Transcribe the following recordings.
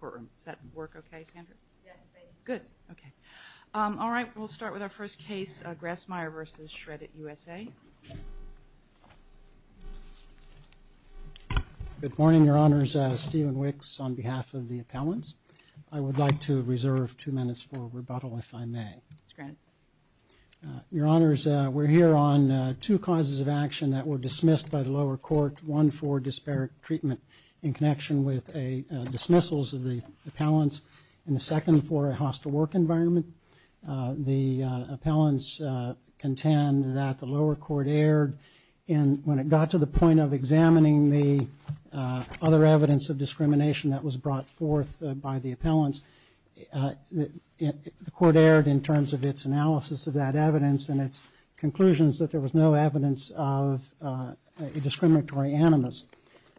courtroom. Does that work okay, Sandra? Yes, thank you. Good, okay. All right, we'll start with our first case, Grassmeyer v. Shred-It USA. Good morning, Your Honors, Stephen Wicks on behalf of the appellants. I would like to reserve two minutes for rebuttal, if I may. Your Honors, we're here on two causes of action that were dismissed by the appellants, and the second for a hostile work environment. The appellants contend that the lower court erred, and when it got to the point of examining the other evidence of discrimination that was brought forth by the appellants, the court erred in terms of its analysis of that evidence and its conclusions that there was no evidence of a discriminatory animus.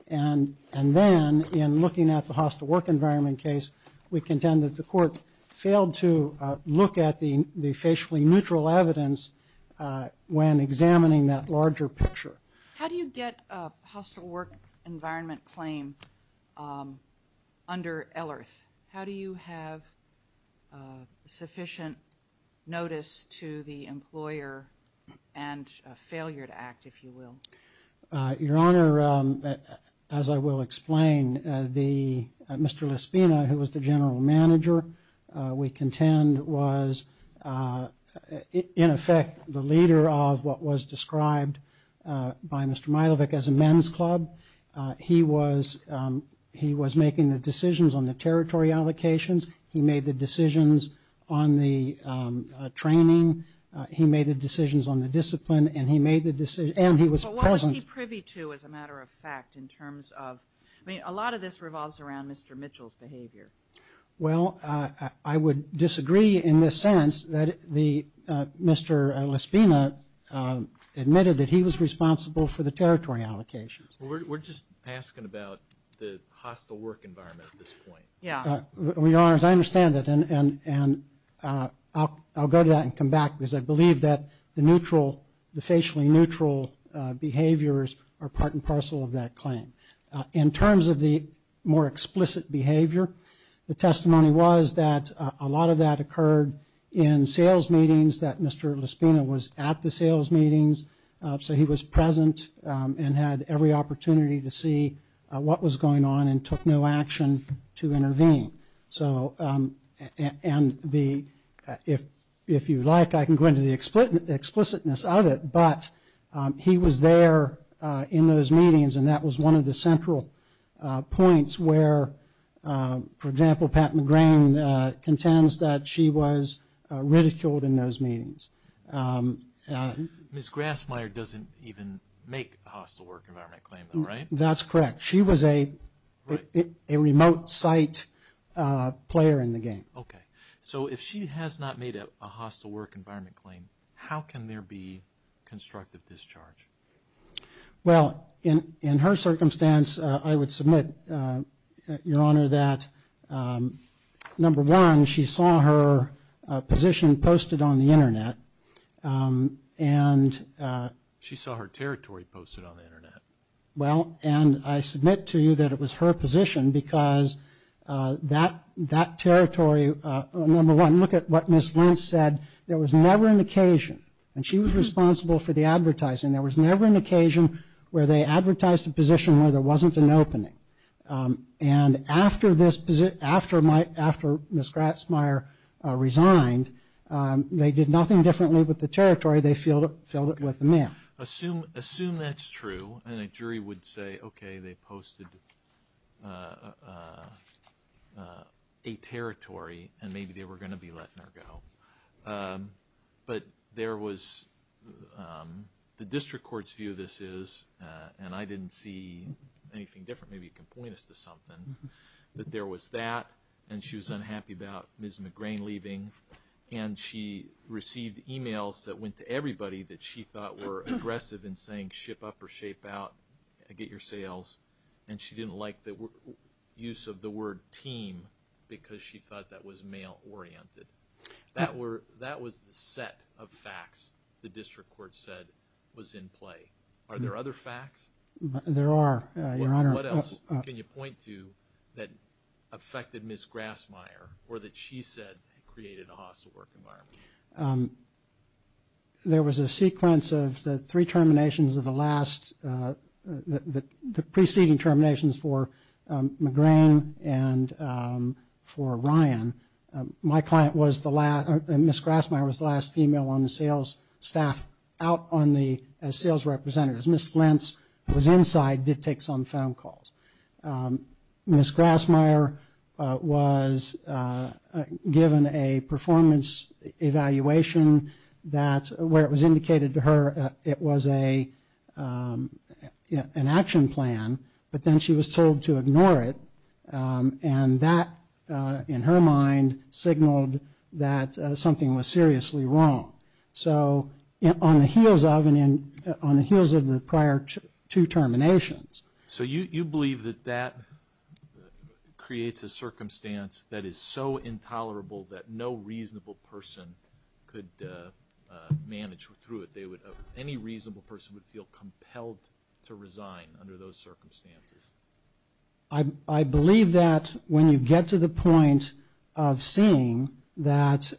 And then, in looking at the hostile work environment case, we contend that the court failed to look at the the facially neutral evidence when examining that larger picture. How do you get a hostile work environment claim under ELERTH? How do you have sufficient notice to the employer and a failure to act, if you will? Your Honor, as I will explain, Mr. Lespina, who was the general manager, we contend was, in effect, the leader of what was described by Mr. Milovic as a men's club. He was making the decisions on the territory allocations, he made the decisions on the training, he made the decisions on the discipline, and he was present... But what was he privy to, as a matter of fact, in terms of... I mean, a lot of this revolves around Mr. Mitchell's behavior. Well, I would disagree in this sense that Mr. Lespina admitted that he was responsible for the territory allocations. We're just asking about the hostile work environment at this point. Yeah. Your Honor, as I understand it, and I'll go to that and come back, because I believe that the neutral, the facially neutral behaviors are part and parcel of that claim. In terms of the more explicit behavior, the testimony was that a lot of that occurred in sales meetings, that Mr. Lespina was at the sales meetings, so he was present and had every opportunity to see what was going on and took no action to intervene. So, and the... If you like, I can go into the explicitness of it, but he was there in those meetings and that was one of the central points where, for example, Pat McGrain contends that she was ridiculed in those meetings. Ms. Grassmeyer doesn't even make hostile work environment claims, right? That's correct. She was a remote site player in the game. Okay. So, if she has not made a hostile work environment claim, how can there be constructive discharge? Well, in her circumstance, I would submit, Your Honor, that number one, she saw her position posted on the Internet and... She saw her territory posted on the Internet. Well, and I submit to you that it was her position because that territory, number one, look at what Ms. Lentz said. There was never an occasion, and she was responsible for the advertising, there was never an occasion where they advertised a position where there wasn't an opening. And after this, after Ms. Grassmeyer resigned, they did nothing differently with the territory. They filled it with the mail. Assume that's true and a jury would say, okay, they have a territory and maybe they were going to be letting her go. But there was, the district court's view of this is, and I didn't see anything different, maybe you can point us to something, that there was that, and she was unhappy about Ms. McGrain leaving, and she received emails that went to everybody that she thought were aggressive in saying ship up or shape out, get your sales, and she didn't like the use of the word team because she thought that was mail-oriented. That were, that was the set of facts the district court said was in play. Are there other facts? There are, Your Honor. What else can you point to that affected Ms. Grassmeyer or that she said created a hostile work environment? There was a sequence of the three terminations of the last, the preceding terminations for McGrain and for Ryan. My client was the last, Ms. Grassmeyer was the last female on the sales staff out on the sales representatives. Ms. Lentz, who was inside, did take some phone calls. Ms. Grassmeyer was given a performance evaluation that, where it was indicated to her it was a, an action plan, but then she was told to ignore it, and that, in her mind, signaled that something was seriously wrong. So, on the heels of, and in, on the heels of the prior two terminations. So you, you believe that that creates a circumstance that is so that any reasonable person could manage through it. They would, any reasonable person would feel compelled to resign under those circumstances. I, I believe that when you get to the point of seeing that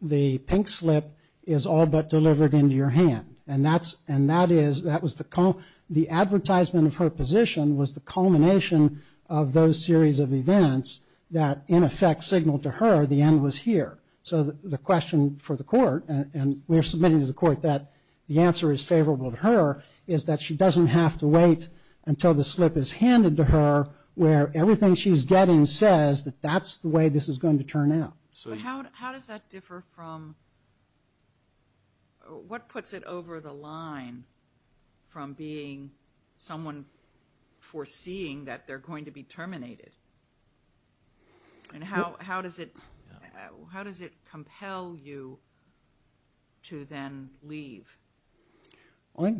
the pink slip is all but delivered into your hand. And that's, and that is, that was the, the advertisement of her position was the culmination of those series of events that, in effect, signaled to her the end was here. So the question for the court, and we are submitting to the court that the answer is favorable to her, is that she doesn't have to wait until the slip is handed to her, where everything she's getting says that that's the way this is going to turn out. So how, how does that differ from, what puts it over the line from being someone foreseeing that they're going to be terminated? And how, how does it, how does it compel you to then leave?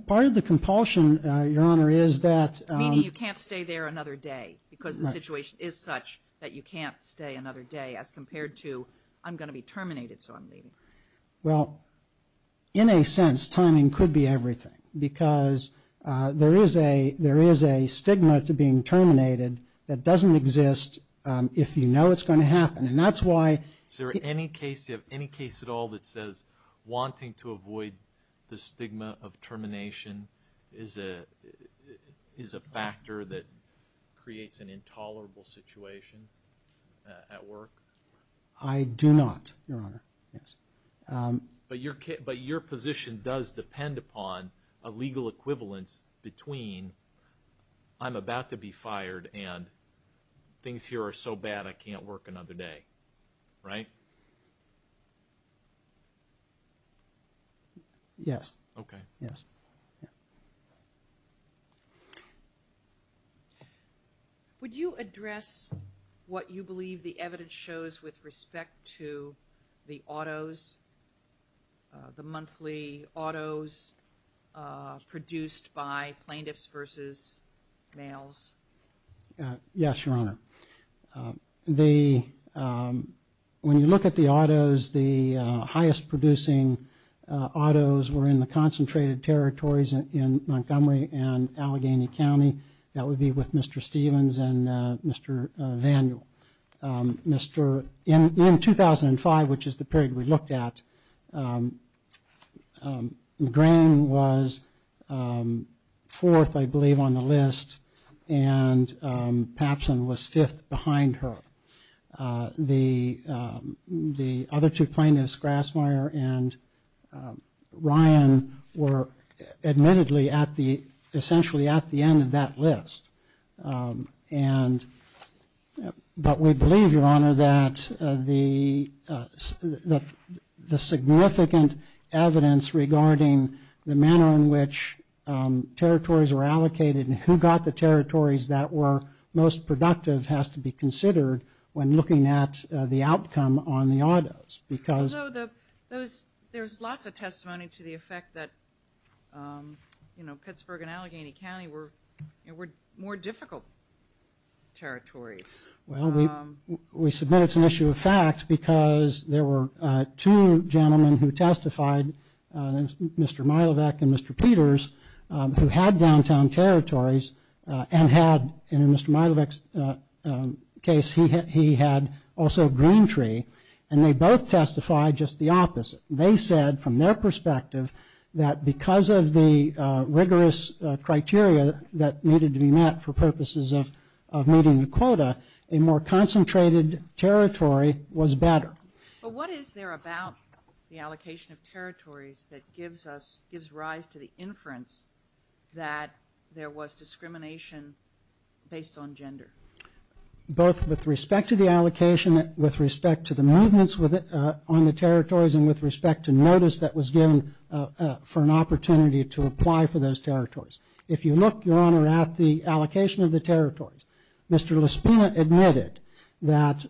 Part of the compulsion, Your Honor, is that. Meaning you can't stay there another day, because the situation is such that you can't stay another day as compared to, I'm going to be terminated, so I'm leaving. Well, in a sense, timing could be everything. Because there is a, there is a Is there any case, do you have any case at all that says wanting to avoid the stigma of termination is a, is a factor that creates an intolerable situation at work? I do not, Your Honor. Yes. But your, but your position does depend upon a legal equivalence between I'm about to be fired and things here are so bad I can't work another day, right? Yes. Okay. Yes. Would you address what you believe the evidence shows with respect to the autos, the monthly autos produced by plaintiffs versus males? Yes, Your Honor. The, when you look at the autos, the highest producing autos were in the concentrated territories in Montgomery and Allegheny County. That would be with Mr. Stevens and Mr. Vanduul. Mr., in, in 2005, which is the period we looked at, McGrane was fourth, I believe, on the list, and Papsen was fifth behind her. The, the other two plaintiffs, Grassmeyer and Ryan, were admittedly at the, essentially at the end of that list. And, but we believe, Your Honor, that the state that the significant evidence regarding the manner in which territories were allocated and who got the territories that were most productive has to be considered when looking at the outcome on the autos because... Although the, those, there's lots of testimony to the effect that, you know, Pittsburgh and Allegheny County were, were more difficult territories. Well, we, we submit it's an issue of fact because there were two gentlemen who testified, Mr. Milevec and Mr. Peters, who had downtown territories and had, in Mr. Milevec's case, he had, he had also a green tree, and they both testified just the opposite. They said from their perspective that because of the rigorous criteria that needed to be met for purposes of, of meeting the quota, a more concentrated territory was better. But what is there about the allocation of territories that gives us, gives rise to the inference that there was discrimination based on gender? Both with respect to the allocation, with respect to the movements with, on the territories, and with respect to notice that was given for an opportunity to apply for those territories. If you look, Your Honor, at the allocation of the territories, Mr. LaSpina admitted that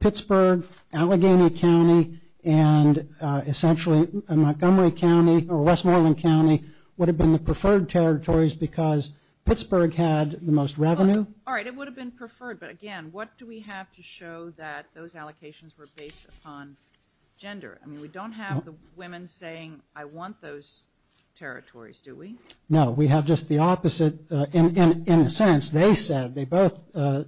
Pittsburgh, Allegheny County, and essentially Montgomery County or Westmoreland County would have been the preferred territories because Pittsburgh had the most revenue. All right, it would have been preferred, but again, what do we have to show that those allocations were based upon gender? I mean, we don't have the women saying, I want those territories. We have just the opposite. In a sense, they said, they both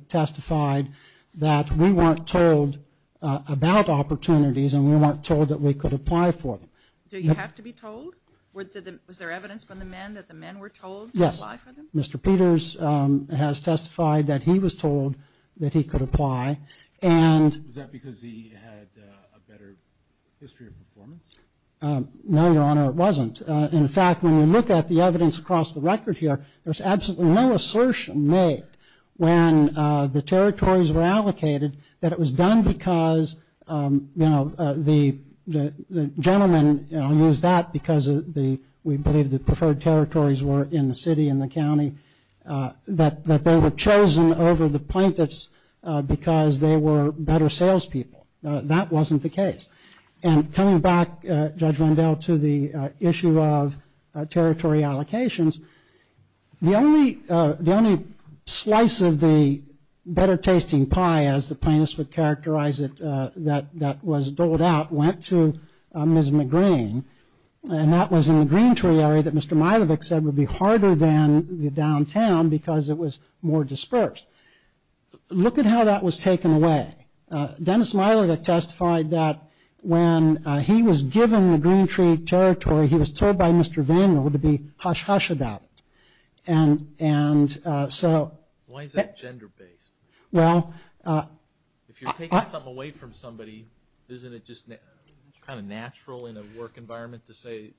testified that we weren't told about opportunities and we weren't told that we could apply for them. Do you have to be told? Was there evidence from the men that the men were told to apply for them? Yes. Mr. Peters has testified that he was told that he could apply and Was that because he had a better history of performance? No, Your Honor, it wasn't. In fact, when you look at the evidence across the record here, there's absolutely no assertion made when the territories were allocated that it was done because the gentlemen used that because we believe the preferred territories were in the city and the county, that they were chosen over the plaintiffs because they were better salespeople. That wasn't the case. And coming back, Judge Rendell, to the issue of territory allocations, the only slice of the better-tasting pie, as the plaintiffs would characterize it, that was doled out went to Ms. McGreen, and that was in the Green Tree area that Mr. Milovic said would be harder than the downtown because it was more dispersed. Look at how that was taken away. Dennis Milovic testified that when he was given the Green Tree territory, he was told by Mr. Vanderwood to be hush-hush about it. Why is that gender-based? If you're taking something away from somebody, isn't it just kind of natural in a work environment to say,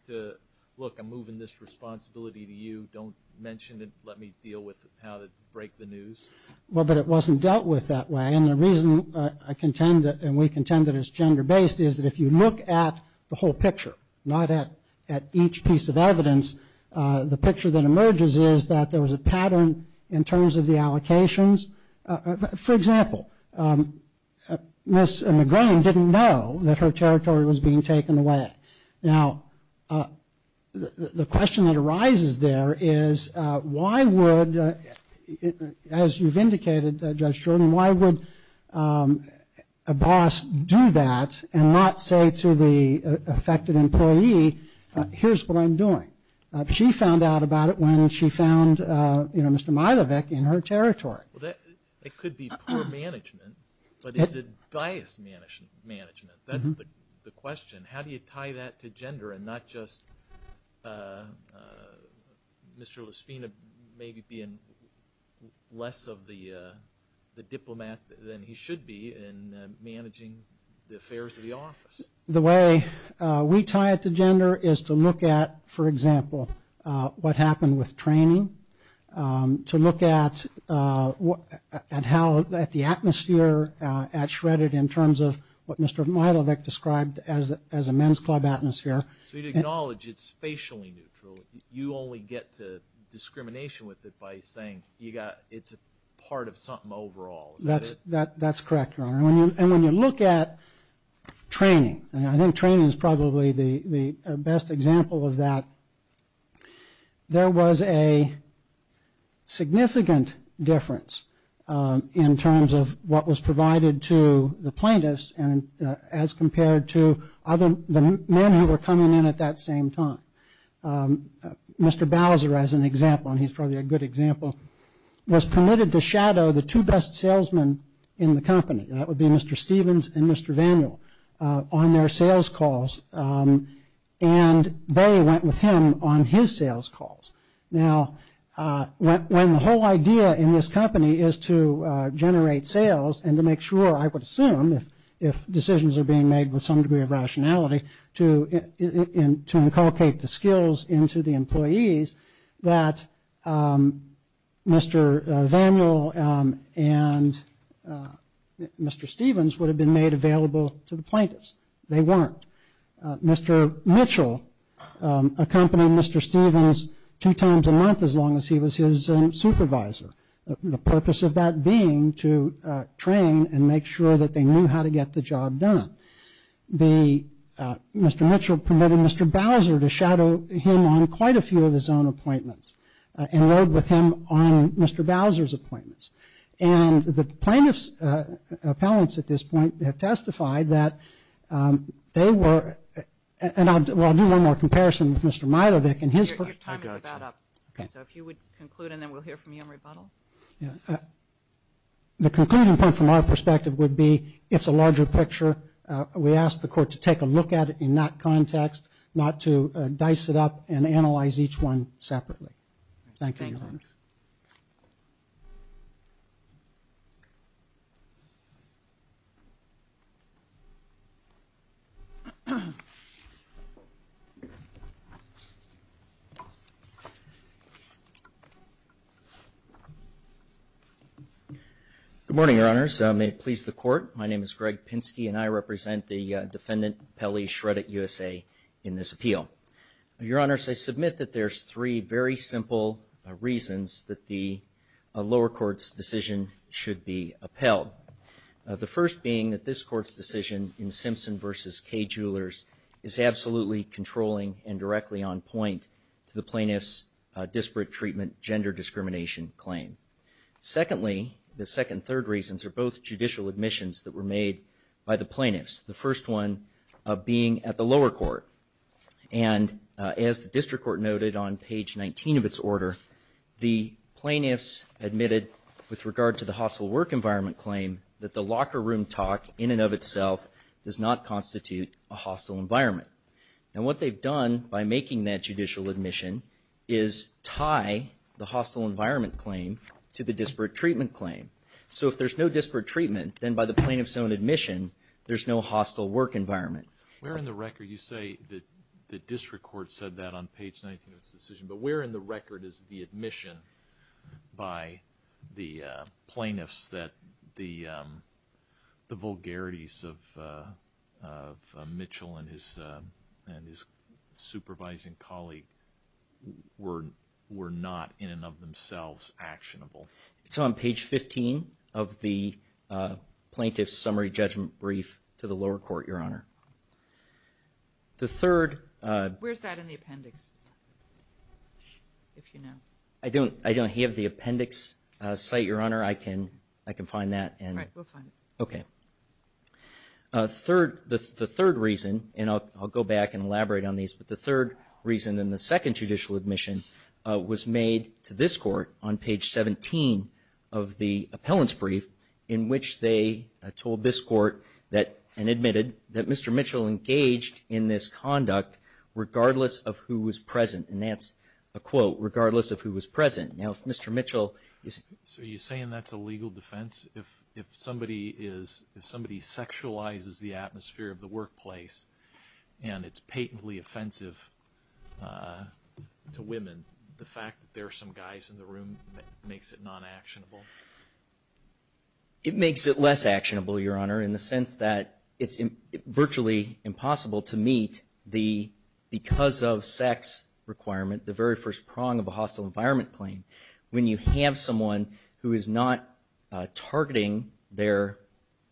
look, I'm moving this responsibility to you, don't mention it, let me deal with how to break the news? Well, but it wasn't dealt with that way, and the reason I contend that and we contend that it's gender-based is that if you look at the whole picture, not at each piece of evidence, the picture that emerges is that there was a pattern in terms of the allocations. For example, Ms. McGreen didn't know that her territory was being taken away. Now, the question that arises there is why would, as you've indicated, Judge Jordan, why would a boss do that and not say to the affected employee, here's what I'm doing? She found out about it when she found Mr. Milovic in her territory. It could be poor management, but is it biased management? That's the question. How do you tie that to gender and not just Mr. Lispina maybe being less of the diplomat than he should be in managing the affairs of the office? The way we tie it to gender is to look at, for example, what happened with training, to look at the atmosphere at Shredded in terms of what Mr. Milovic described as a men's club atmosphere. So you acknowledge it's facially neutral. You only get to discrimination with it by saying it's a part of something overall. That's correct, Your Honor. When you look at training, and I think training is probably the best example of that, there was a significant difference in terms of what was provided to the plaintiffs as compared to the men who were coming in at that same time. Mr. Bowser, as an example, and he's probably a good example, was permitted to shadow the two best salesmen in the company. That would be Mr. Stevens and Mr. Vanduul on their sales calls, and they went with him on his sales calls. Now, when the whole idea in this company is to generate sales and to make sure, I would assume, if decisions are being made with some degree of rationality, to inculcate the skills into the employees, that Mr. Vanduul and Mr. Stevens would have been made available to the plaintiffs. They weren't. Mr. Mitchell accompanied Mr. Stevens two times a month as long as he was his supervisor. The purpose of that being to train and make sure that they knew how to get the job done. Mr. Mitchell permitted Mr. Bowser to shadow him on quite a few of his own appointments and rode with him on Mr. Bowser's appointments. And the plaintiffs' appellants at this point have testified that they were, and I'll do one more comparison with Mr. Milovic and his appellant, Mr. Mitchell. The concluding point from our perspective would be, it's a larger picture. We ask the court to take a look at it in that context, not to dice it up and analyze each one separately. Thank you, Your Honors. Good morning, Your Honors. May it please the Court. My name is Greg Pinsky and I represent the defendant, Pelley Shreddit, USA, in this appeal. Your Honors, I submit that there's three very simple reasons that the lower court's decision should be upheld. The first being that this court's decision in Simpson v. Kay Jewelers is absolutely controlling and directly on point to the plaintiffs' disparate treatment gender discrimination claim. Secondly, the second and third reasons are both judicial admissions that were made by the plaintiffs, the first one being at the lower court. And as the district court noted on page 19 of its order, the plaintiffs admitted with regard to the hostile work environment claim that the locker room talk in and of itself does not constitute a hostile environment. And what they've done by making that judicial admission is tie the hostile environment claim to the disparate treatment claim. So if there's no disparate treatment, then by the plaintiff's own admission, there's no hostile work environment. Where in the record you say that the district court said that on page 19 of its decision, but where in the record is the admission by the plaintiffs that the vulgarities of Mitchell and his supervising colleague were not in and of themselves actionable? It's on page 15 of the plaintiff's summary judgment brief to the lower court, Your Honor. The third... Where's that in the appendix, if you know? I don't have the appendix site, Your Honor. I can find that and... All right, we'll find it. Okay. The third reason, and I'll go back and elaborate on these, but the third reason and the second judicial admission was made to this court on page 17 of the appellant's brief in which they told this court that, and admitted, that Mr. Mitchell engaged in this conduct regardless of who was present. And that's a quote, regardless of who was present. Now, if Mr. Mitchell is... If somebody sexualizes the atmosphere of the workplace and it's patently offensive to women, the fact that there are some guys in the room makes it non-actionable? It makes it less actionable, Your Honor, in the sense that it's virtually impossible to meet the because of sex requirement, the very first prong of a hostile environment claim. When you have someone who is not targeting their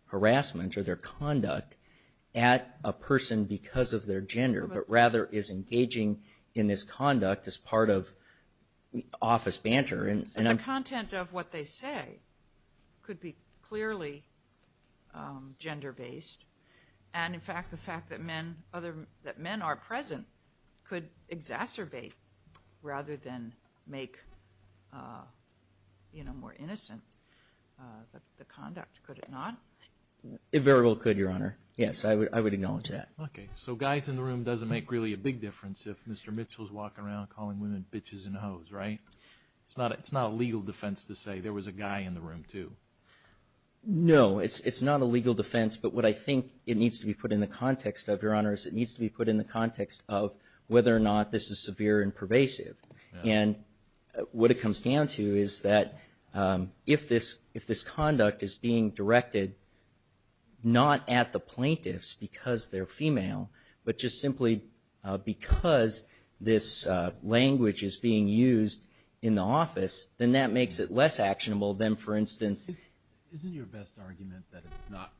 harassment or their conduct at a person because of their gender, but rather is engaging in this conduct as part of office banter and... The content of what they say could be clearly gender-based. And in fact, the fact that men are present could exacerbate rather than make more innocent the conduct, could it not? It very well could, Your Honor. Yes, I would acknowledge that. Okay. So guys in the room doesn't make really a big difference if Mr. Mitchell is walking around calling women bitches and hoes, right? It's not a legal defense to say there was a guy in the room, too. No, it's not a legal defense, but what I think it needs to be put in the context of, Your Honor, is it needs to be put in the context of whether or not this is severe and pervasive. And what it comes down to is that if this conduct is being directed not at the plaintiffs because they're female, but just simply because this language is being used in the office, then that makes it less actionable than, for instance... Isn't your best argument that it's not...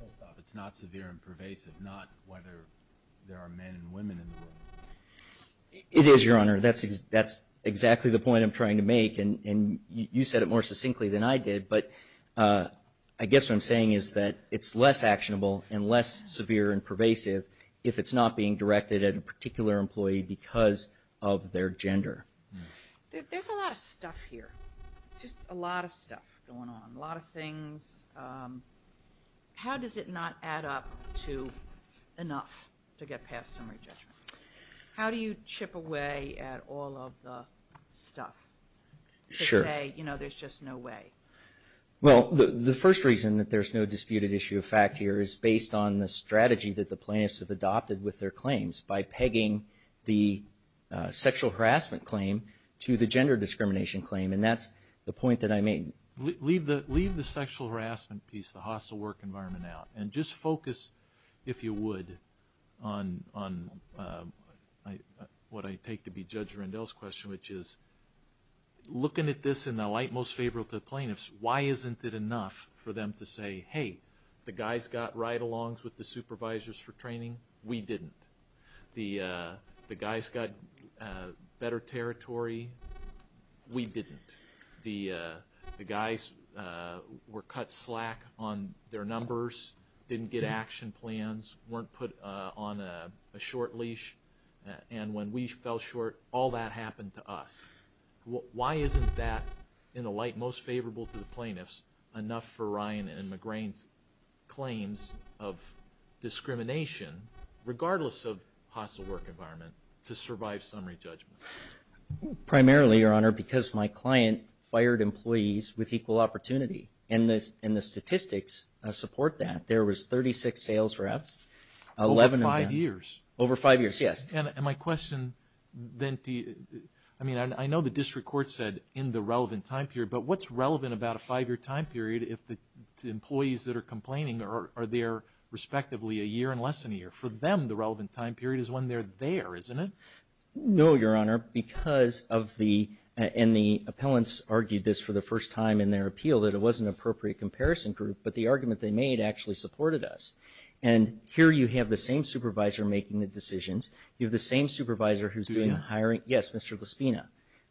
First off, it's not severe and pervasive, not whether there are men and women in the room? It is, Your Honor. That's exactly the point I'm trying to make, and you said it more succinctly than I did, but I guess what I'm saying is that it's less actionable and less severe and pervasive if it's not being directed at a particular employee because of their gender. There's a lot of stuff here, just a lot of stuff going on, a lot of things. How does it not add up to enough to get past summary judgments? How do you chip away at all of the stuff to say, you know, there's just no way? Well, the first reason that there's no disputed issue of fact here is based on the strategy that the plaintiffs have adopted with their claims by pegging the sexual harassment claim to the gender discrimination claim, and that's the point that I made. Leave the sexual harassment piece, the hostile work environment out, and just focus, if you would, on what I take to be Judge Rendell's question, which is, looking at this in the light most favorable to the plaintiffs, why isn't it enough for them to say, hey, the supervisors for training, we didn't. The guys got better territory, we didn't. The guys were cut slack on their numbers, didn't get action plans, weren't put on a short leash, and when we fell short, all that happened to us. Why isn't that, in the light most favorable to the plaintiffs, enough for Ryan and McGrane's claims of discrimination, regardless of hostile work environment, to survive summary judgment? Primarily, Your Honor, because my client fired employees with equal opportunity, and the statistics support that. There was 36 sales reps, 11 of them. Over five years? Over five years, yes. And my question then, I mean, I know the district court said in the relevant time period, but what's relevant about a five-year time period if the employees that are complaining are there, respectively, a year and less than a year? For them, the relevant time period is when they're there, isn't it? No, Your Honor, because of the, and the appellants argued this for the first time in their appeal, that it wasn't an appropriate comparison group, but the argument they made actually supported us. And here you have the same supervisor making the decisions. You have the same supervisor who's doing the hiring. Lespina?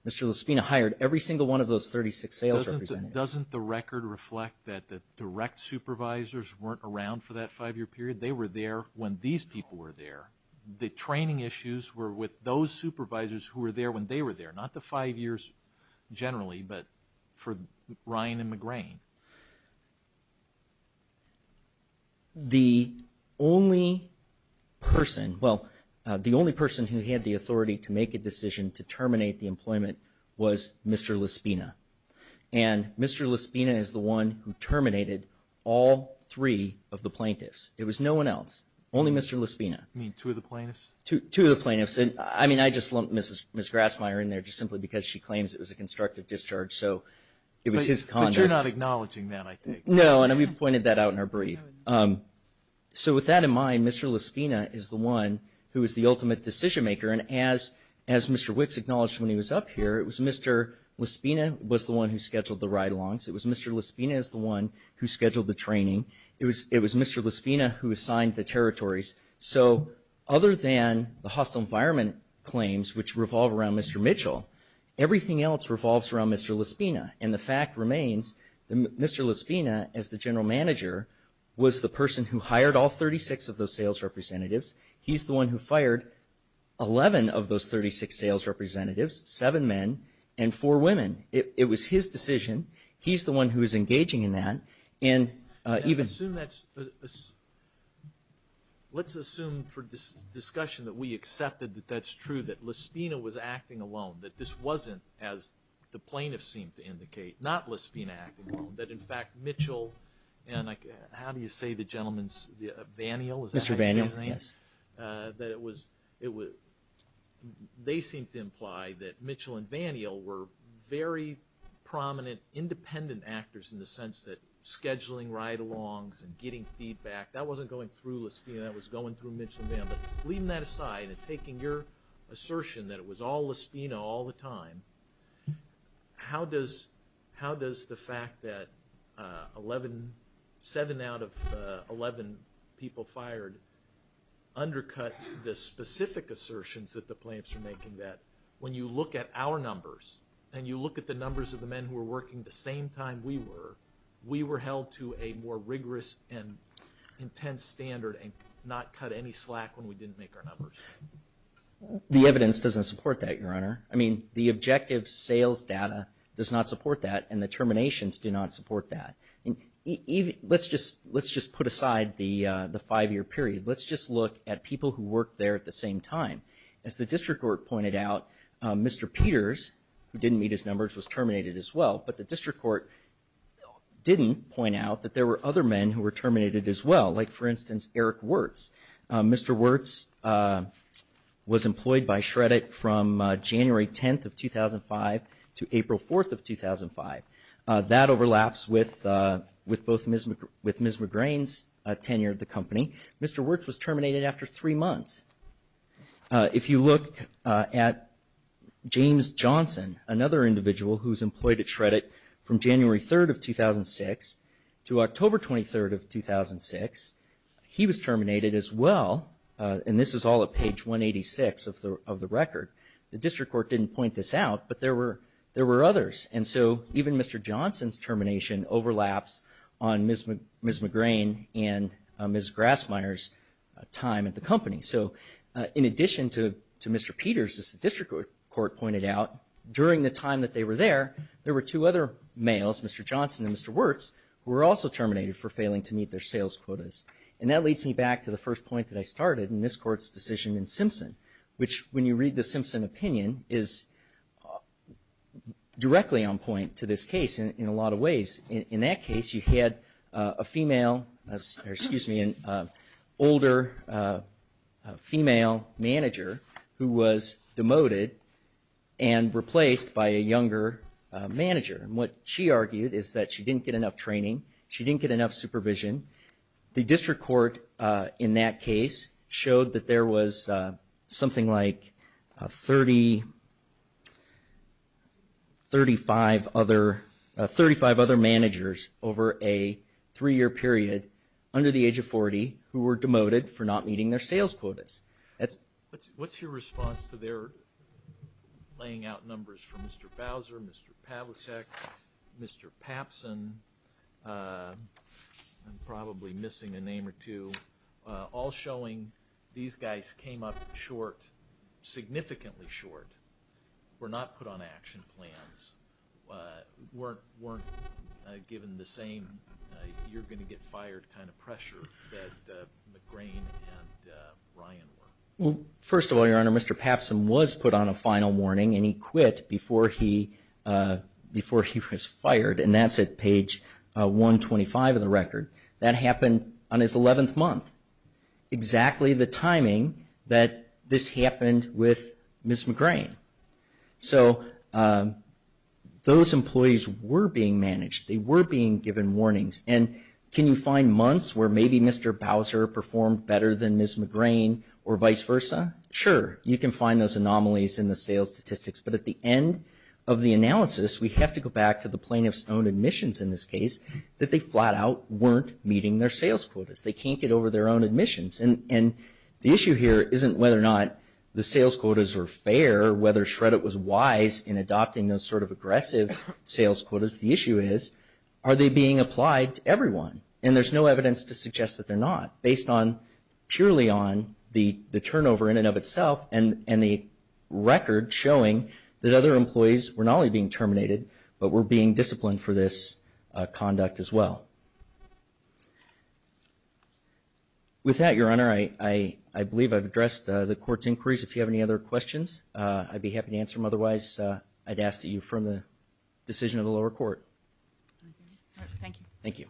Lespina hired every single one of those 36 sales representatives. Doesn't the record reflect that the direct supervisors weren't around for that five-year period? They were there when these people were there. The training issues were with those supervisors who were there when they were there, not the five years generally, but for Ryan and McGrane. The only person, well, the only person who had the authority to make a decision to terminate the employment was Mr. Lespina. And Mr. Lespina is the one who terminated all three of the plaintiffs. It was no one else, only Mr. Lespina. You mean two of the plaintiffs? Two of the plaintiffs. I mean, I just lumped Ms. Grassmeyer in there just simply because she claims it was a constructive discharge, so it was his conduct. But you're not acknowledging that, I think. No, and we pointed that out in our brief. So with that in mind, Mr. Lespina is the one who was there, and as Mr. Wicks acknowledged when he was up here, it was Mr. Lespina was the one who scheduled the ride-alongs. It was Mr. Lespina who scheduled the training. It was Mr. Lespina who assigned the territories. So other than the hostile environment claims, which revolve around Mr. Mitchell, everything else revolves around Mr. Lespina. And the fact remains that Mr. Lespina, as the general manager, was the person who hired all 36 of the sales representatives. He's the one who fired 11 of those 36 sales representatives, seven men and four women. It was his decision. He's the one who is engaging in that. And even – Let's assume for discussion that we accepted that that's true, that Lespina was acting alone, that this wasn't, as the plaintiffs seemed to indicate, not Lespina acting alone, that in fact Mitchell and – how do you say the gentleman's – Vanial, is that how it was – they seemed to imply that Mitchell and Vanial were very prominent independent actors in the sense that scheduling ride-alongs and getting feedback, that wasn't going through Lespina, that was going through Mitchell and Vanial. But leaving that aside and taking your assertion that it was all Lespina all the time, how does the fact that 11 – seven out of 11 people fired undercut the specific assertions that the plaintiffs are making that when you look at our numbers and you look at the numbers of the men who were working the same time we were, we were held to a more rigorous and intense standard and not cut any slack when we didn't make our numbers? The evidence doesn't support that, Your Honor. I mean, the objective sales data does not support that and the terminations do not support that. And even – let's just put aside the five-year period. Let's just look at people who worked there at the same time. As the district court pointed out, Mr. Peters, who didn't meet his numbers, was terminated as well, but the district court didn't point out that there were other men who were terminated as well, like, for instance, Eric Wirtz. Mr. Wirtz was employed by Shreddick from January 10th of 2005 to April 4th of 2005. That overlaps with both Ms. McGrain's tenure at the company. Mr. Wirtz was terminated after three months. If you look at James Johnson, another individual who was employed at Shreddick from January 3rd of 2006 to October 23rd of 2006, he was terminated as well, and this is all at page 186 of the record. The district court didn't point this out, but there were others. And so even Mr. Johnson's termination overlaps on Ms. McGrain and Ms. Grassmeyer's time at the company. So in addition to Mr. Peters, as the district court pointed out, during the time that they were there, there were two other males, Mr. Johnson and Mr. Wirtz, who were also terminated for failing to meet their sales quotas. And that leads me back to the first point that I started in this court's decision in Simpson, which when you read the Simpson opinion is directly on point to this case in a lot of ways. In that case, you had a female, or excuse me, an older female manager who was demoted and replaced by a younger manager. And what she argued is that she didn't get enough training, she didn't get enough supervision. The district court in that case showed that there was something like 30, 35 other managers over a three-year period under the age of 40 who were demoted for not meeting their sales quotas. What's your response to their laying out numbers for Mr. Bowser, Mr. Pavlicek, Mr. Papsen, I'm probably missing a name or two, all showing these guys came up short, significantly short, were not put on action plans, weren't given the same you're going to get fired kind of pressure that McGrane and Ryan were. First of all, Your Honor, Mr. Papsen was put on a final warning and he quit before he was fired, and that's at page 125 of the record. That happened on his 11th month, exactly the timing that this happened with Ms. McGrane. So those employees were being managed, they were being given warnings. And can you find months where maybe Mr. Bowser performed better than Ms. McGrane or vice versa? Sure, you can find those anomalies in the sales statistics, but at the end of the analysis, we have to go back to the plaintiff's own admissions in this case, that they flat out weren't meeting their sales quotas. They can't get over their own admissions. And the issue here isn't whether or not the sales quotas were fair, whether Shreddit was wise in adopting those sort of aggressive sales quotas. The issue is, are they being applied to everyone? And there's no evidence to suggest that they're not, based purely on the turnover in and of itself, and the record showing that other employees were not only being terminated, but were being disciplined for this conduct as well. With that, Your Honor, I believe I've addressed the Court's inquiries. If you have any other questions, I'd be happy to answer them. Otherwise, I'd ask that you affirm the decision of the lower court. Thank you. Thank you.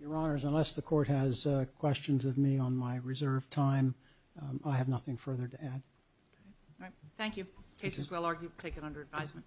Your Honors, unless the Court has questions of me on my reserve time, I have nothing further to add. Thank you. Case is well argued, taken under advisement.